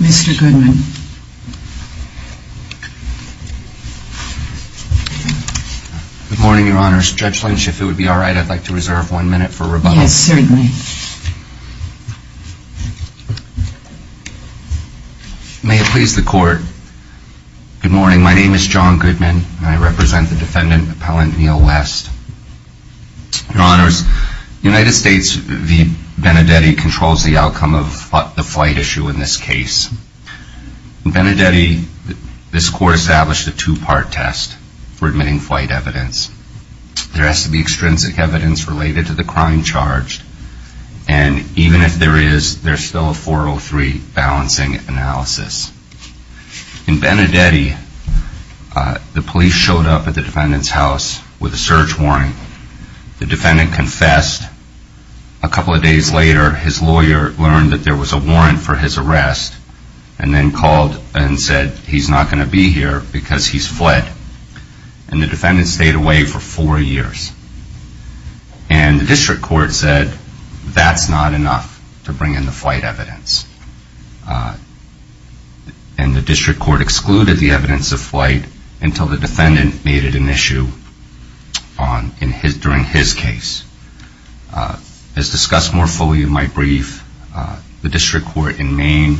Mr. Goodman. Good morning, Your Honors. Judge Lynch, if it would be all right, I'd like to reserve one minute for rebuttal. Yes, certainly. May it please the Court. Good morning. My name is John Goodman, and I represent the defendant, Appellant Neil West. Your Honors, the United States v. Benedetti controls the outcome of the flight issue in this case. In Benedetti, this Court established a two-part test for admitting flight evidence. There has to be extrinsic evidence related to the crime charged, and even if there is, there's still a 403 balancing analysis. In Benedetti, the police showed up at the defendant's house with a search warrant. The defendant confessed. A couple of days later, his lawyer learned that there was a warrant for his arrest, and then called and said he's not going to be here because he's fled. And the defendant stayed away for four years. And the District Court said that's not enough to bring in the flight evidence. And the District Court excluded the evidence of flight until the defendant made it an issue during his case. As discussed more fully in my brief, the District Court in Maine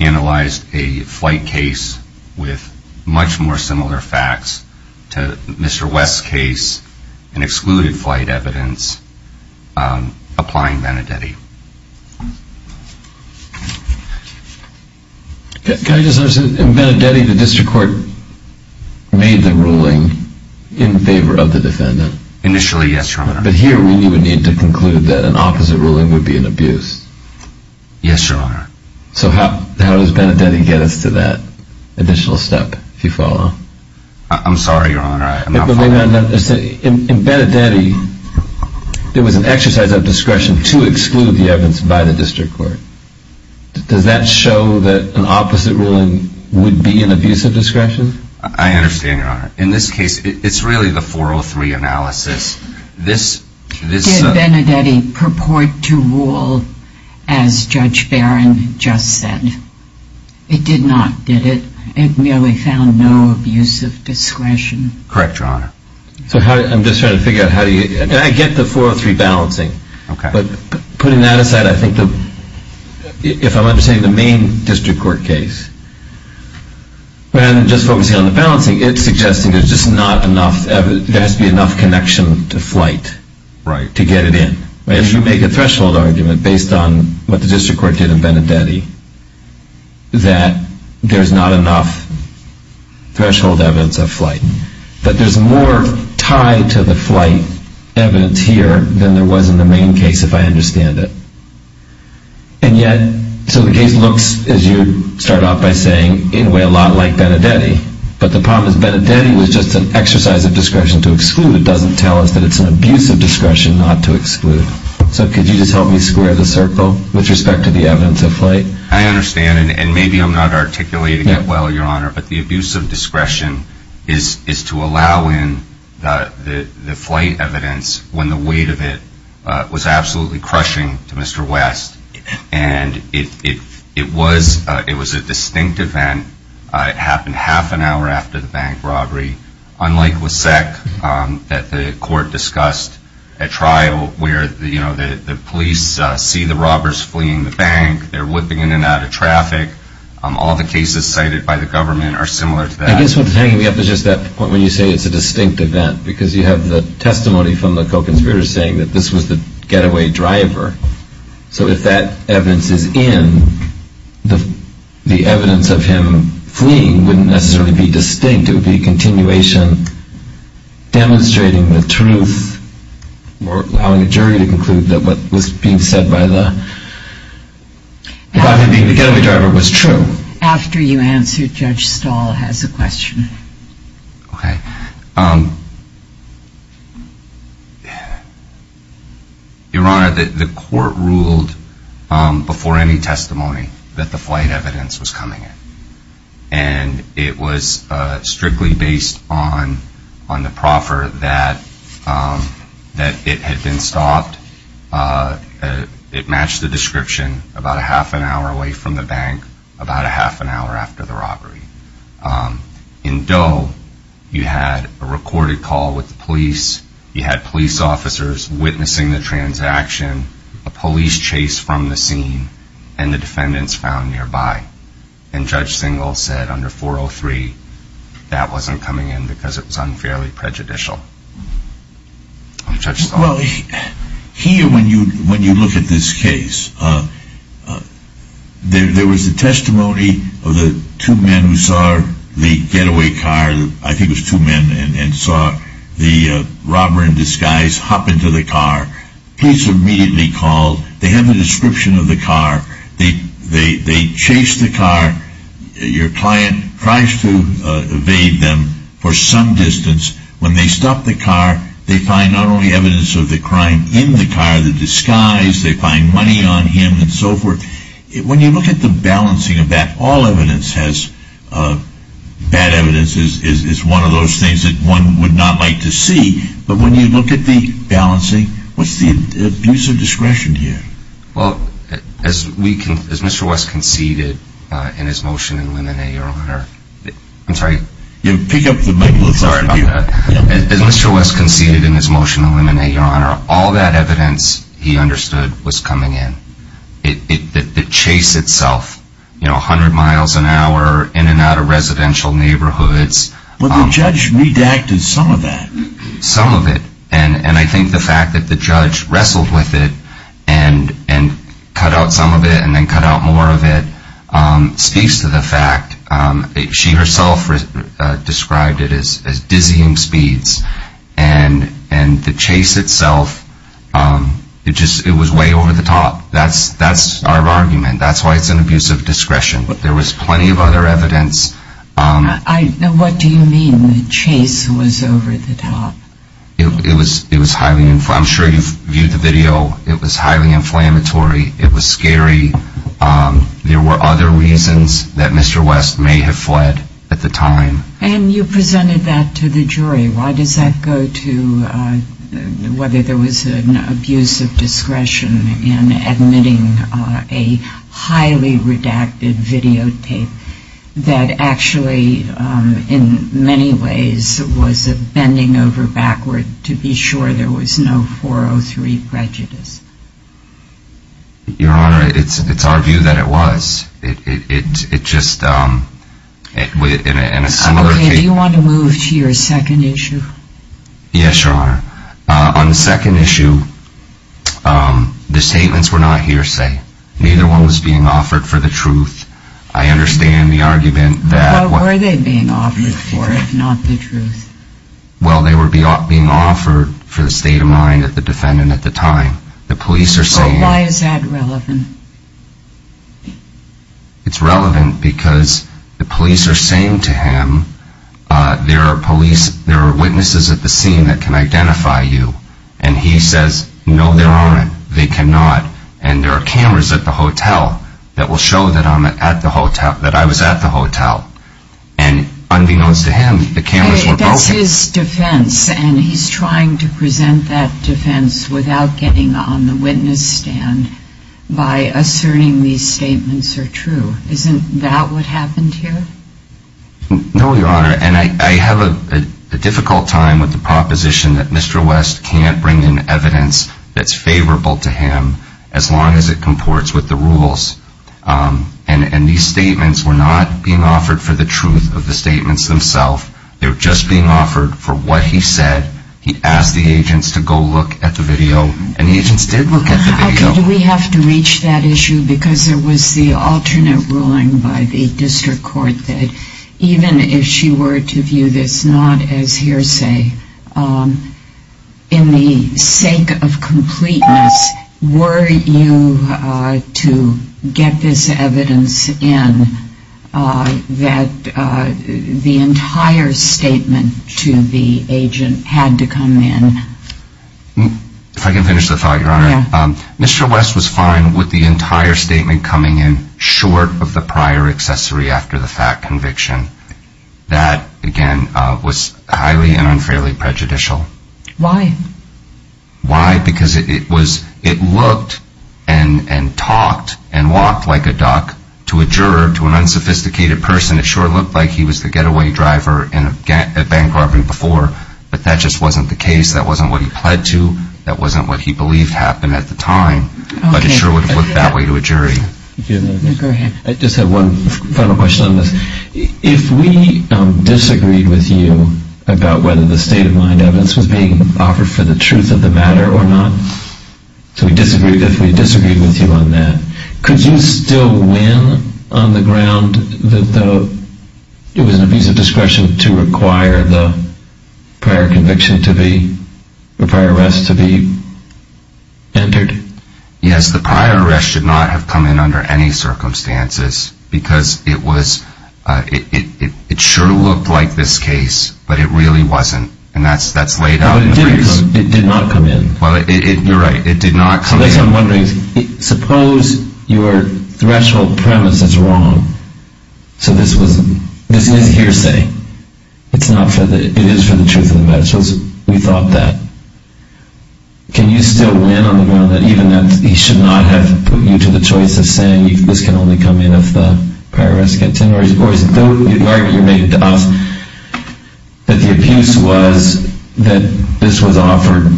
analyzed a flight case with much more similar facts to Mr. West's case and excluded flight evidence applying Benedetti. Can I just ask, in Benedetti, the District Court made the ruling in favor of the defendant? Initially, yes, Your Honor. But here we would need to conclude that an opposite ruling would be an abuse. Yes, Your Honor. So how does Benedetti get us to that additional step, if you follow? In Benedetti, there was an exercise of discretion to exclude the evidence by the District Court. Does that show that an opposite ruling would be an abuse of discretion? I understand, Your Honor. In this case, it's really the 403 analysis. Did Benedetti purport to rule as Judge Barron just said? It did not, did it? It merely found no abuse of discretion? Correct, Your Honor. I'm just trying to figure out how do you... I get the 403 balancing, but putting that aside, I think if I'm understanding the Maine District Court case, rather than just focusing on the balancing, it's suggesting there's just not enough... there has to be enough connection to flight to get it in. If you make a threshold argument based on what the District Court did in Benedetti, that there's not enough threshold evidence of flight. But there's more tied to the flight evidence here than there was in the Maine case, if I understand it. And yet, so the case looks, as you start off by saying, in a way a lot like Benedetti. But the problem is Benedetti was just an exercise of discretion to exclude. It doesn't tell us that it's an abuse of discretion not to exclude. So could you just help me square the circle with respect to the evidence of flight? I understand, and maybe I'm not articulating it well, Your Honor, but the abuse of discretion is to allow in the flight evidence when the weight of it was absolutely crushing to Mr. West. And it was a distinct event. It happened half an hour after the bank robbery. Unlike Wissek, that the court discussed at trial where the police see the robbers fleeing the bank, they're whipping in and out of traffic, all the cases cited by the government are similar to that. I guess what's hanging me up is just that point when you say it's a distinct event. Because you have the testimony from the co-conspirators saying that this was the getaway driver. So if that evidence is in, the evidence of him fleeing wouldn't necessarily be distinct. It would be a continuation demonstrating the truth or allowing a jury to conclude that what was being said by the driver being the getaway driver was true. After you answer, Judge Stahl has a question. Okay. Your Honor, the court ruled before any testimony that the flight evidence was coming in. And it was strictly based on the proffer that it had been stopped. It matched the description about a half an hour away from the bank, about a half an hour after the robbery. In Doe, you had a recorded call with the police. You had police officers witnessing the transaction, a police chase from the scene, and the defendants found nearby. And Judge Singel said under 403, that wasn't coming in because it was unfairly prejudicial. Judge Stahl. Well, here when you look at this case, there was a testimony of the two men who saw the getaway car, I think it was two men, and saw the robber in disguise hop into the car. Police immediately called. They have a description of the car. They chase the car. Your client tries to evade them for some distance. When they stop the car, they find not only evidence of the crime in the car, the disguise, they find money on him and so forth. When you look at the balancing of that, all evidence has bad evidence is one of those things that one would not like to see. But when you look at the balancing, what's the abuse of discretion here? Well, as Mr. West conceded in his motion to eliminate, your honor, all that evidence he understood was coming in. The chase itself, you know, 100 miles an hour, in and out of residential neighborhoods. But the judge redacted some of that. Some of it. And I think the fact that the judge wrestled with it and cut out some of it and then cut out more of it speaks to the fact, she herself described it as dizzying speeds. And the chase itself, it was way over the top. That's our argument. That's why it's an abuse of discretion. There was plenty of other evidence. What do you mean the chase was over the top? I'm sure you've viewed the video. It was highly inflammatory. It was scary. There were other reasons that Mr. West may have fled at the time. And you presented that to the jury. Why does that go to whether there was an abuse of discretion in admitting a highly redacted videotape that actually, in many ways, was a bending over backward to be sure there was no 403 prejudice? Your honor, it's our view that it was. It just, in a similar case. Do you want to move to your second issue? Yes, your honor. On the second issue, the statements were not hearsay. Neither one was being offered for the truth. I understand the argument that. What were they being offered for if not the truth? Well, they were being offered for the state of mind of the defendant at the time. The police are saying. Why is that relevant? It's relevant because the police are saying to him, there are witnesses at the scene that can identify you. And he says, no, there aren't. They cannot. And there are cameras at the hotel that will show that I was at the hotel. And unbeknownst to him, the cameras were broken. That's his defense. And he's trying to present that defense without getting on the witness stand by asserting these statements are true. Isn't that what happened here? No, your honor. And I have a difficult time with the proposition that Mr. West can't bring in evidence that's favorable to him as long as it comports with the rules. And these statements were not being offered for the truth of the statements themselves. They were just being offered for what he said. He asked the agents to go look at the video. And the agents did look at the video. How could we have to reach that issue? Because there was the alternate ruling by the district court that even if she were to view this not as hearsay, in the sake of completeness, were you to get this evidence in that the entire statement to the agent had to come in? If I can finish the thought, your honor. Mr. West was fine with the entire statement coming in short of the prior accessory after the fact conviction. That, again, was highly and unfairly prejudicial. Why? Why? Because it looked and talked and walked like a duck to a juror, to an unsophisticated person. It sure looked like he was the getaway driver in a bank robbery before, but that just wasn't the case. That wasn't what he pled to. That wasn't what he believed happened at the time. But it sure would have looked that way to a jury. I just have one final question on this. If we disagreed with you about whether the state of mind evidence was being offered for the truth of the matter or not, if we disagreed with you on that, could you still win on the ground that it was an abuse of discretion to require the prior arrest to be entered? Yes, the prior arrest should not have come in under any circumstances because it sure looked like this case, but it really wasn't. And that's laid out in the briefs. It did not come in. You're right. It did not come in. So this is what I'm wondering. Suppose your threshold premise is wrong. So this is hearsay. It is for the truth of the matter. Suppose we thought that. Can you still win on the ground that even though he should not have put you to the choice of saying this can only come in if the prior arrest gets entered? Or is it the argument you're making to us that the abuse was that this was offered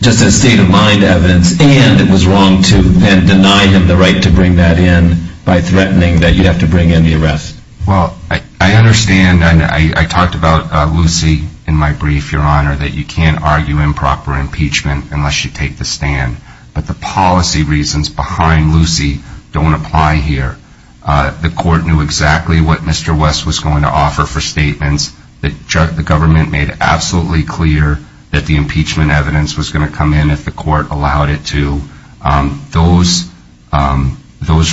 just as state of mind evidence and it was wrong to then deny him the right to bring that in by threatening that you'd have to bring in the arrest? Well, I understand and I talked about Lucy in my brief, Your Honor, that you can't argue improper impeachment unless you take the stand. But the policy reasons behind Lucy don't apply here. The court knew exactly what Mr. West was going to offer for statements. The government made absolutely clear that the impeachment evidence was going to come in if the court allowed it to. Those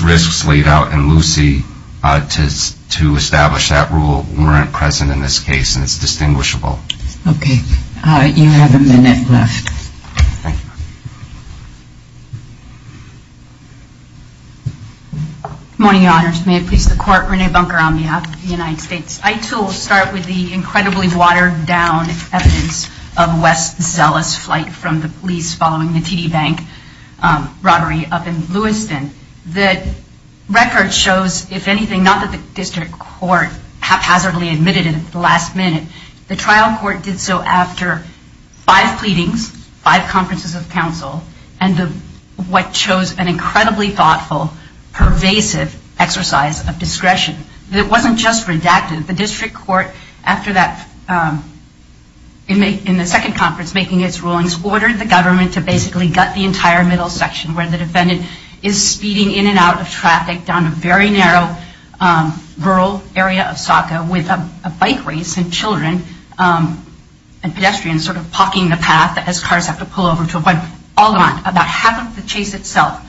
risks laid out in Lucy to establish that rule weren't present in this case, and it's distinguishable. Okay. You have a minute left. Thank you. Good morning, Your Honors. May it please the Court, Renee Bunker on behalf of the United States. I, too, will start with the incredibly watered-down evidence of West's zealous flight from the police following the TD Bank robbery up in Lewiston. The record shows, if anything, not that the district court haphazardly admitted it at the last minute. The trial court did so after five pleadings, five conferences of counsel, and what shows an incredibly thoughtful, pervasive exercise of discretion. It wasn't just redacted. The district court, after that, in the second conference, making its rulings, ordered the government to basically gut the entire middle section, where the defendant is speeding in and out of traffic down a very narrow rural area of Sauca with a bike race and children and pedestrians sort of paulking the path as cars have to pull over to avoid. All gone. About half of the chase itself.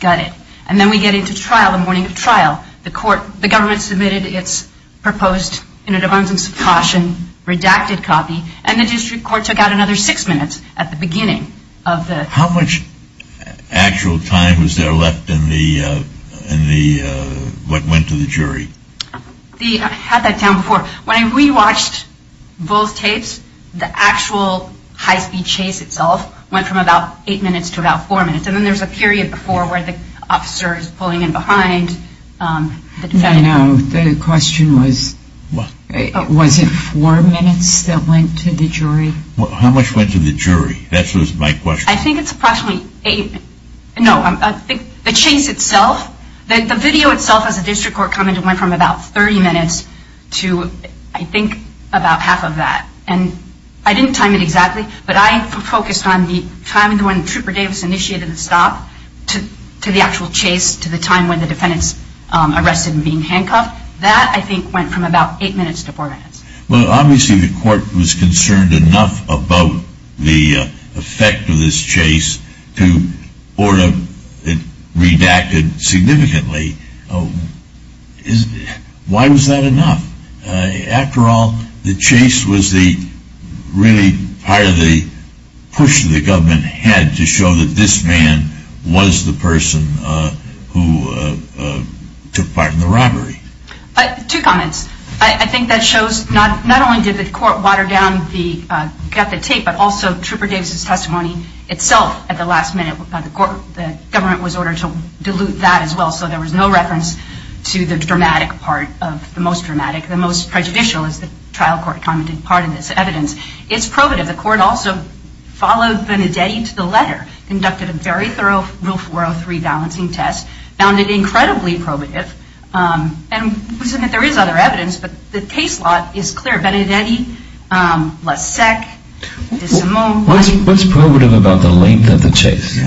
Got it. And then we get into trial, the morning of trial. The government submitted its proposed, in an abundance of caution, redacted copy, and the district court took out another six minutes at the beginning of the trial. How much actual time was there left in what went to the jury? I had that down before. When I rewatched both tapes, the actual high-speed chase itself went from about eight minutes to about four minutes. And then there's a period before where the officer is pulling in behind the defendant. I know. The question was, was it four minutes that went to the jury? How much went to the jury? That was my question. I think it's approximately eight. No, the chase itself, the video itself as a district court comment went from about 30 minutes to, I think, about half of that. And I didn't time it exactly, but I focused on the timing when Trooper Davis initiated the stop to the actual chase, to the time when the defendant's arrested and being handcuffed. That, I think, went from about eight minutes to four minutes. Well, obviously the court was concerned enough about the effect of this chase to order it redacted significantly. Why was that enough? After all, the chase was really part of the push the government had to show that this man was the person who took part in the robbery. Two comments. I think that shows not only did the court water down the tape, but also Trooper Davis' testimony itself at the last minute, the government was ordered to dilute that as well, so there was no reference to the dramatic part of the most dramatic, the most prejudicial, as the trial court commented part of this evidence. It's probative. The court also followed Benedetti to the letter, conducted a very thorough Rule 403 balancing test, found it incredibly probative. And there is other evidence, but the case lot is clear. Benedetti, Lasek, DeSimone. What's probative about the length of the chase?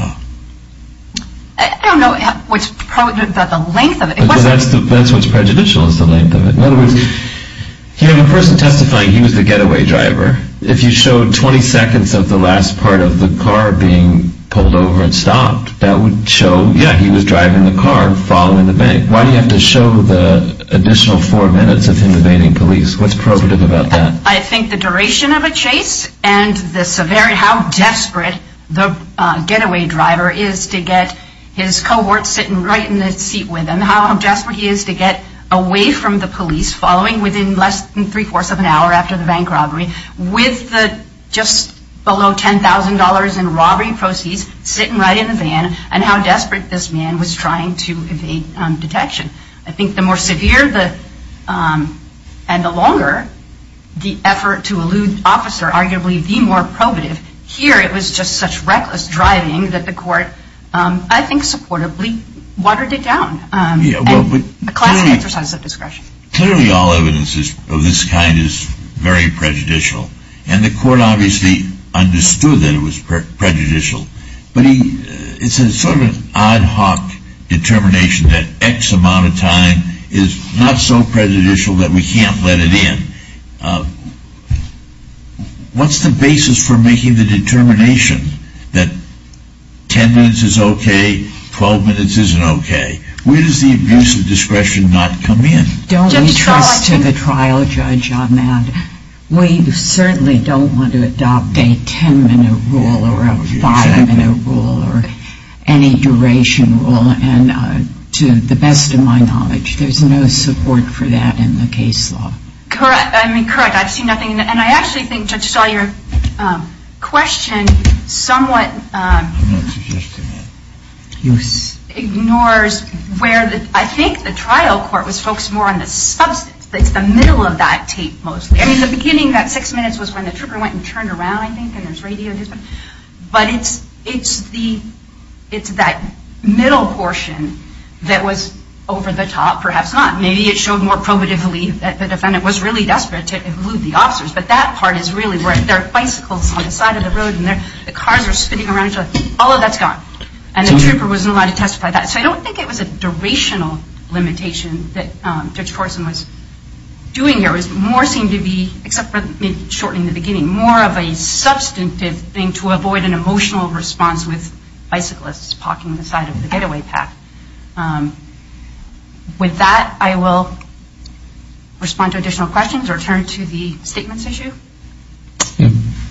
I don't know what's probative about the length of it. That's what's prejudicial is the length of it. In other words, the person testifying, he was the getaway driver. If you showed 20 seconds of the last part of the car being pulled over and stopped, that would show, yeah, he was driving the car following the bank. Why do you have to show the additional four minutes of him evading police? What's probative about that? I think the duration of a chase and the severity, how desperate the getaway driver is to get his cohort sitting right in the seat with him, how desperate he is to get away from the police, following within less than three-fourths of an hour after the bank robbery, with just below $10,000 in robbery proceeds, sitting right in the van, and how desperate this man was trying to evade detection. I think the more severe and the longer the effort to elude the officer, arguably the more probative. Here it was just such reckless driving that the court, I think, supportably watered it down. A classic exercise of discretion. Clearly all evidence of this kind is very prejudicial. And the court obviously understood that it was prejudicial. But it's sort of an ad hoc determination that X amount of time is not so prejudicial that we can't let it in. What's the basis for making the determination that 10 minutes is okay, 12 minutes isn't okay? Where does the abuse of discretion not come in? Don't entrust to the trial judge on that. We certainly don't want to adopt a 10-minute rule or a 5-minute rule or any duration rule. And to the best of my knowledge, there's no support for that in the case law. Correct. I mean, correct. I've seen nothing. And I actually think, Judge Stahl, your question somewhat ignores where I think the trial court was focused more on the substance. It's the middle of that tape mostly. I mean, the beginning, that six minutes was when the trooper went and turned around, I think, and there's radio. But it's that middle portion that was over the top, perhaps not. Maybe it showed more probatively that the defendant was really desperate to elude the officers. But that part is really where there are bicycles on the side of the road and the cars are spinning around each other. All of that's gone. And the trooper wasn't allowed to testify to that. So I don't think it was a durational limitation that Judge Corson was doing here. It was more seen to be, except for maybe shortly in the beginning, more of a substantive thing to avoid an emotional response with bicyclists parking on the side of the getaway path. With that, I will respond to additional questions or turn to the statements issue.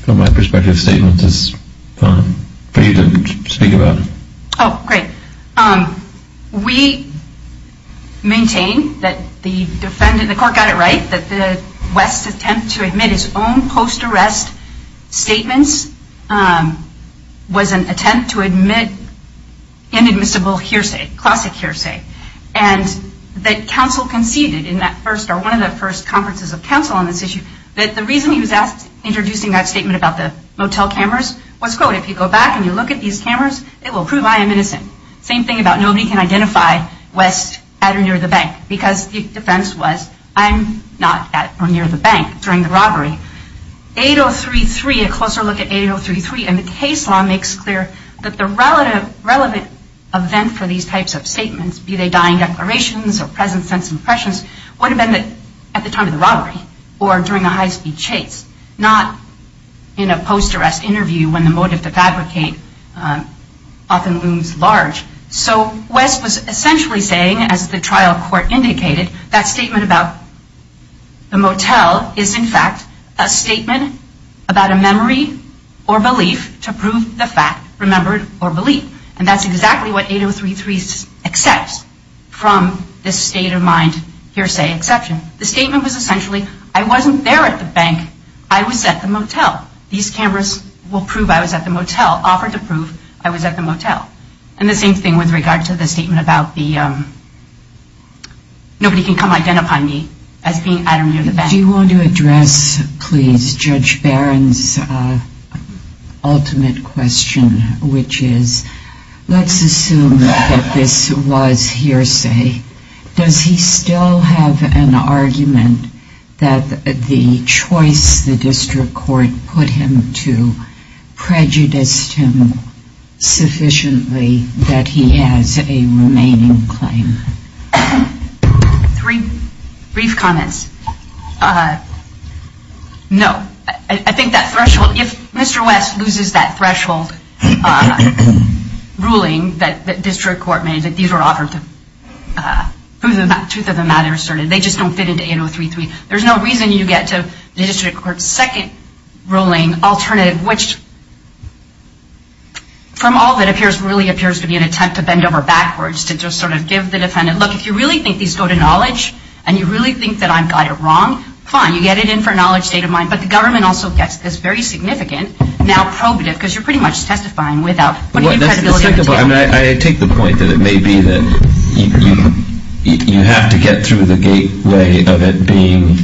From my perspective, statements is fine for you to speak about. Oh, great. We maintain that the court got it right, that the West's attempt to admit his own post-arrest statements was an attempt to admit inadmissible hearsay, classic hearsay, and that counsel conceded in that first or one of the first conferences of counsel on this issue that the reason he was introduced in that statement about the motel cameras was, quote, if you go back and you look at these cameras, it will prove I am innocent. Same thing about nobody can identify West at or near the bank, because the defense was I'm not at or near the bank during the robbery. 8033, a closer look at 8033 in the case law makes clear that the relevant event for these types of statements, be they dying declarations or present sense impressions, would have been at the time of the robbery or during a high-speed chase, not in a post-arrest interview when the motive to fabricate often looms large. So West was essentially saying, as the trial court indicated, that statement about the motel is, in fact, a statement about a memory or belief to prove the fact remembered or believed. And that's exactly what 8033 accepts from this state-of-mind hearsay exception. The statement was essentially, I wasn't there at the bank, I was at the motel. These cameras will prove I was at the motel, offered to prove I was at the motel. And the same thing with regard to the statement about the nobody can come identify me as being at or near the bank. Do you want to address, please, Judge Barron's ultimate question, which is let's assume that this was hearsay. Does he still have an argument that the choice the district court put him to prejudiced him sufficiently that he has a remaining claim? Three brief comments. No. I think that threshold, if Mr. West loses that threshold ruling that district court made, that these were offered to prove the truth of the matter asserted, they just don't fit into 8033. There's no reason you get to district court's second ruling alternative, which from all that appears really appears to be an attempt to bend over backwards to just sort of give the defendant, look, if you really think these go to knowledge and you really think that I've got it wrong, fine, you get it in for a knowledge state-of-mind. But the government also gets this very significant, now probative, I take the point that it may be that you have to get through the gateway of it being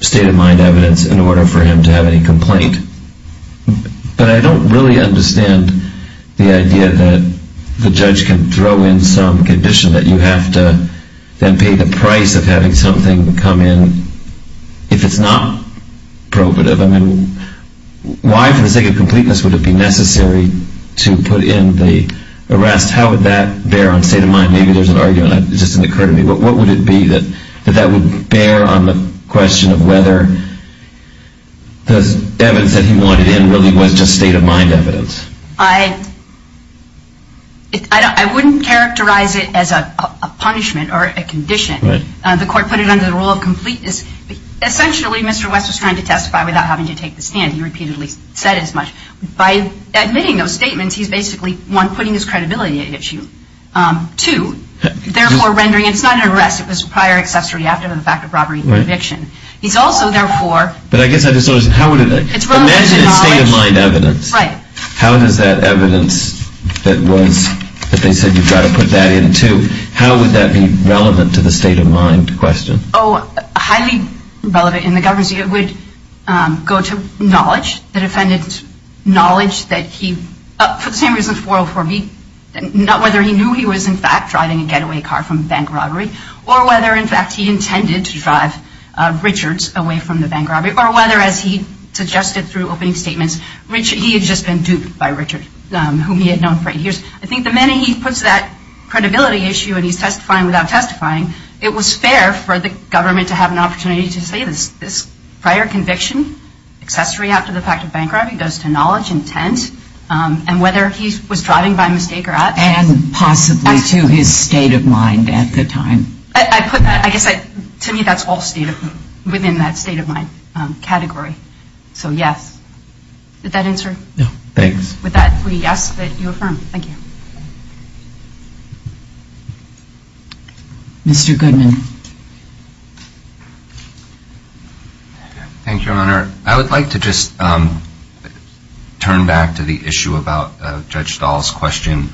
state-of-mind evidence in order for him to have any complaint. But I don't really understand the idea that the judge can throw in some condition that you have to then pay the price of having something come in if it's not probative. I mean, why for the sake of completeness would it be necessary to put in the arrest? How would that bear on state-of-mind? Maybe there's an argument that just didn't occur to me. What would it be that that would bear on the question of whether the evidence that he wanted in really was just state-of-mind evidence? I wouldn't characterize it as a punishment or a condition. The court put it under the rule of completeness. Essentially, Mr. West was trying to testify without having to take the stand. He repeatedly said as much. By admitting those statements, he's basically, one, putting his credibility at issue. Two, therefore rendering it's not an arrest. It was a prior accessory after the fact of robbery or eviction. He's also, therefore... But I guess I just don't understand. Imagine it's state-of-mind evidence. Right. How does that evidence that they said you've got to put that in, too, how would that be relevant to the state-of-mind question? Oh, highly relevant. In the government's view, it would go to knowledge. The defendant's knowledge that he, for the same reason 404B, whether he knew he was, in fact, driving a getaway car from a bank robbery or whether, in fact, he intended to drive Richard's away from the bank robbery or whether, as he suggested through opening statements, he had just been duped by Richard, whom he had known for eight years. I think the minute he puts that credibility issue and he's testifying without testifying, it was fair for the government to have an opportunity to say this prior conviction, accessory after the fact of bank robbery goes to knowledge, intent, and whether he was driving by mistake or not. And possibly to his state of mind at the time. I guess to me that's all state of mind, within that state of mind category. So, yes. Did that answer it? No. Thanks. With that, we ask that you affirm. Thank you. Mr. Goodman. Thank you, Your Honor. I would like to just turn back to the issue about Judge Dahl's question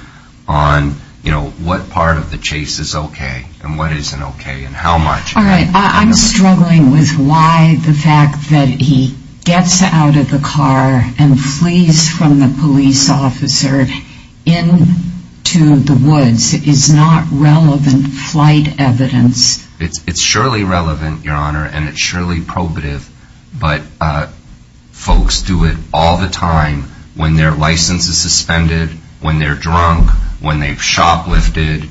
on, you know, what part of the chase is okay and what isn't okay and how much. All right. I'm struggling with why the fact that he gets out of the car and flees from the police officer into the woods is not relevant flight evidence. It's surely relevant, Your Honor, and it's surely probative, but folks do it all the time when their license is suspended, when they're drunk, when they've shoplifted,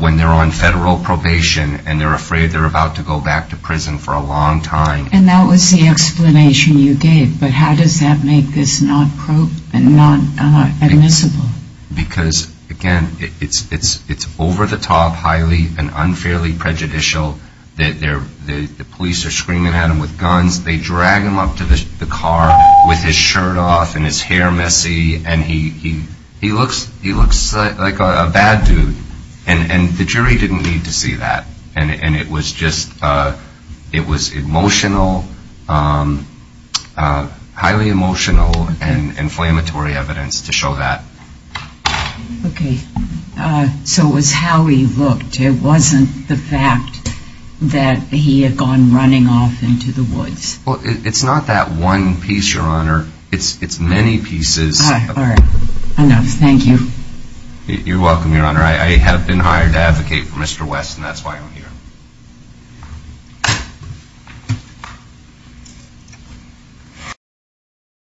when they're on federal probation and they're afraid they're about to go back to prison for a long time. And that was the explanation you gave, but how does that make this not admissible? Because, again, it's over-the-top, highly and unfairly prejudicial. The police are screaming at him with guns. They drag him up to the car with his shirt off and his hair messy, and he looks like a bad dude. And the jury didn't need to see that. And it was just emotional, highly emotional and inflammatory evidence to show that. Okay. So it was how he looked. It wasn't the fact that he had gone running off into the woods. Well, it's not that one piece, Your Honor. It's many pieces. All right. Enough. Thank you. You're welcome, Your Honor. I have been hired to advocate for Mr. West, and that's why I'm here.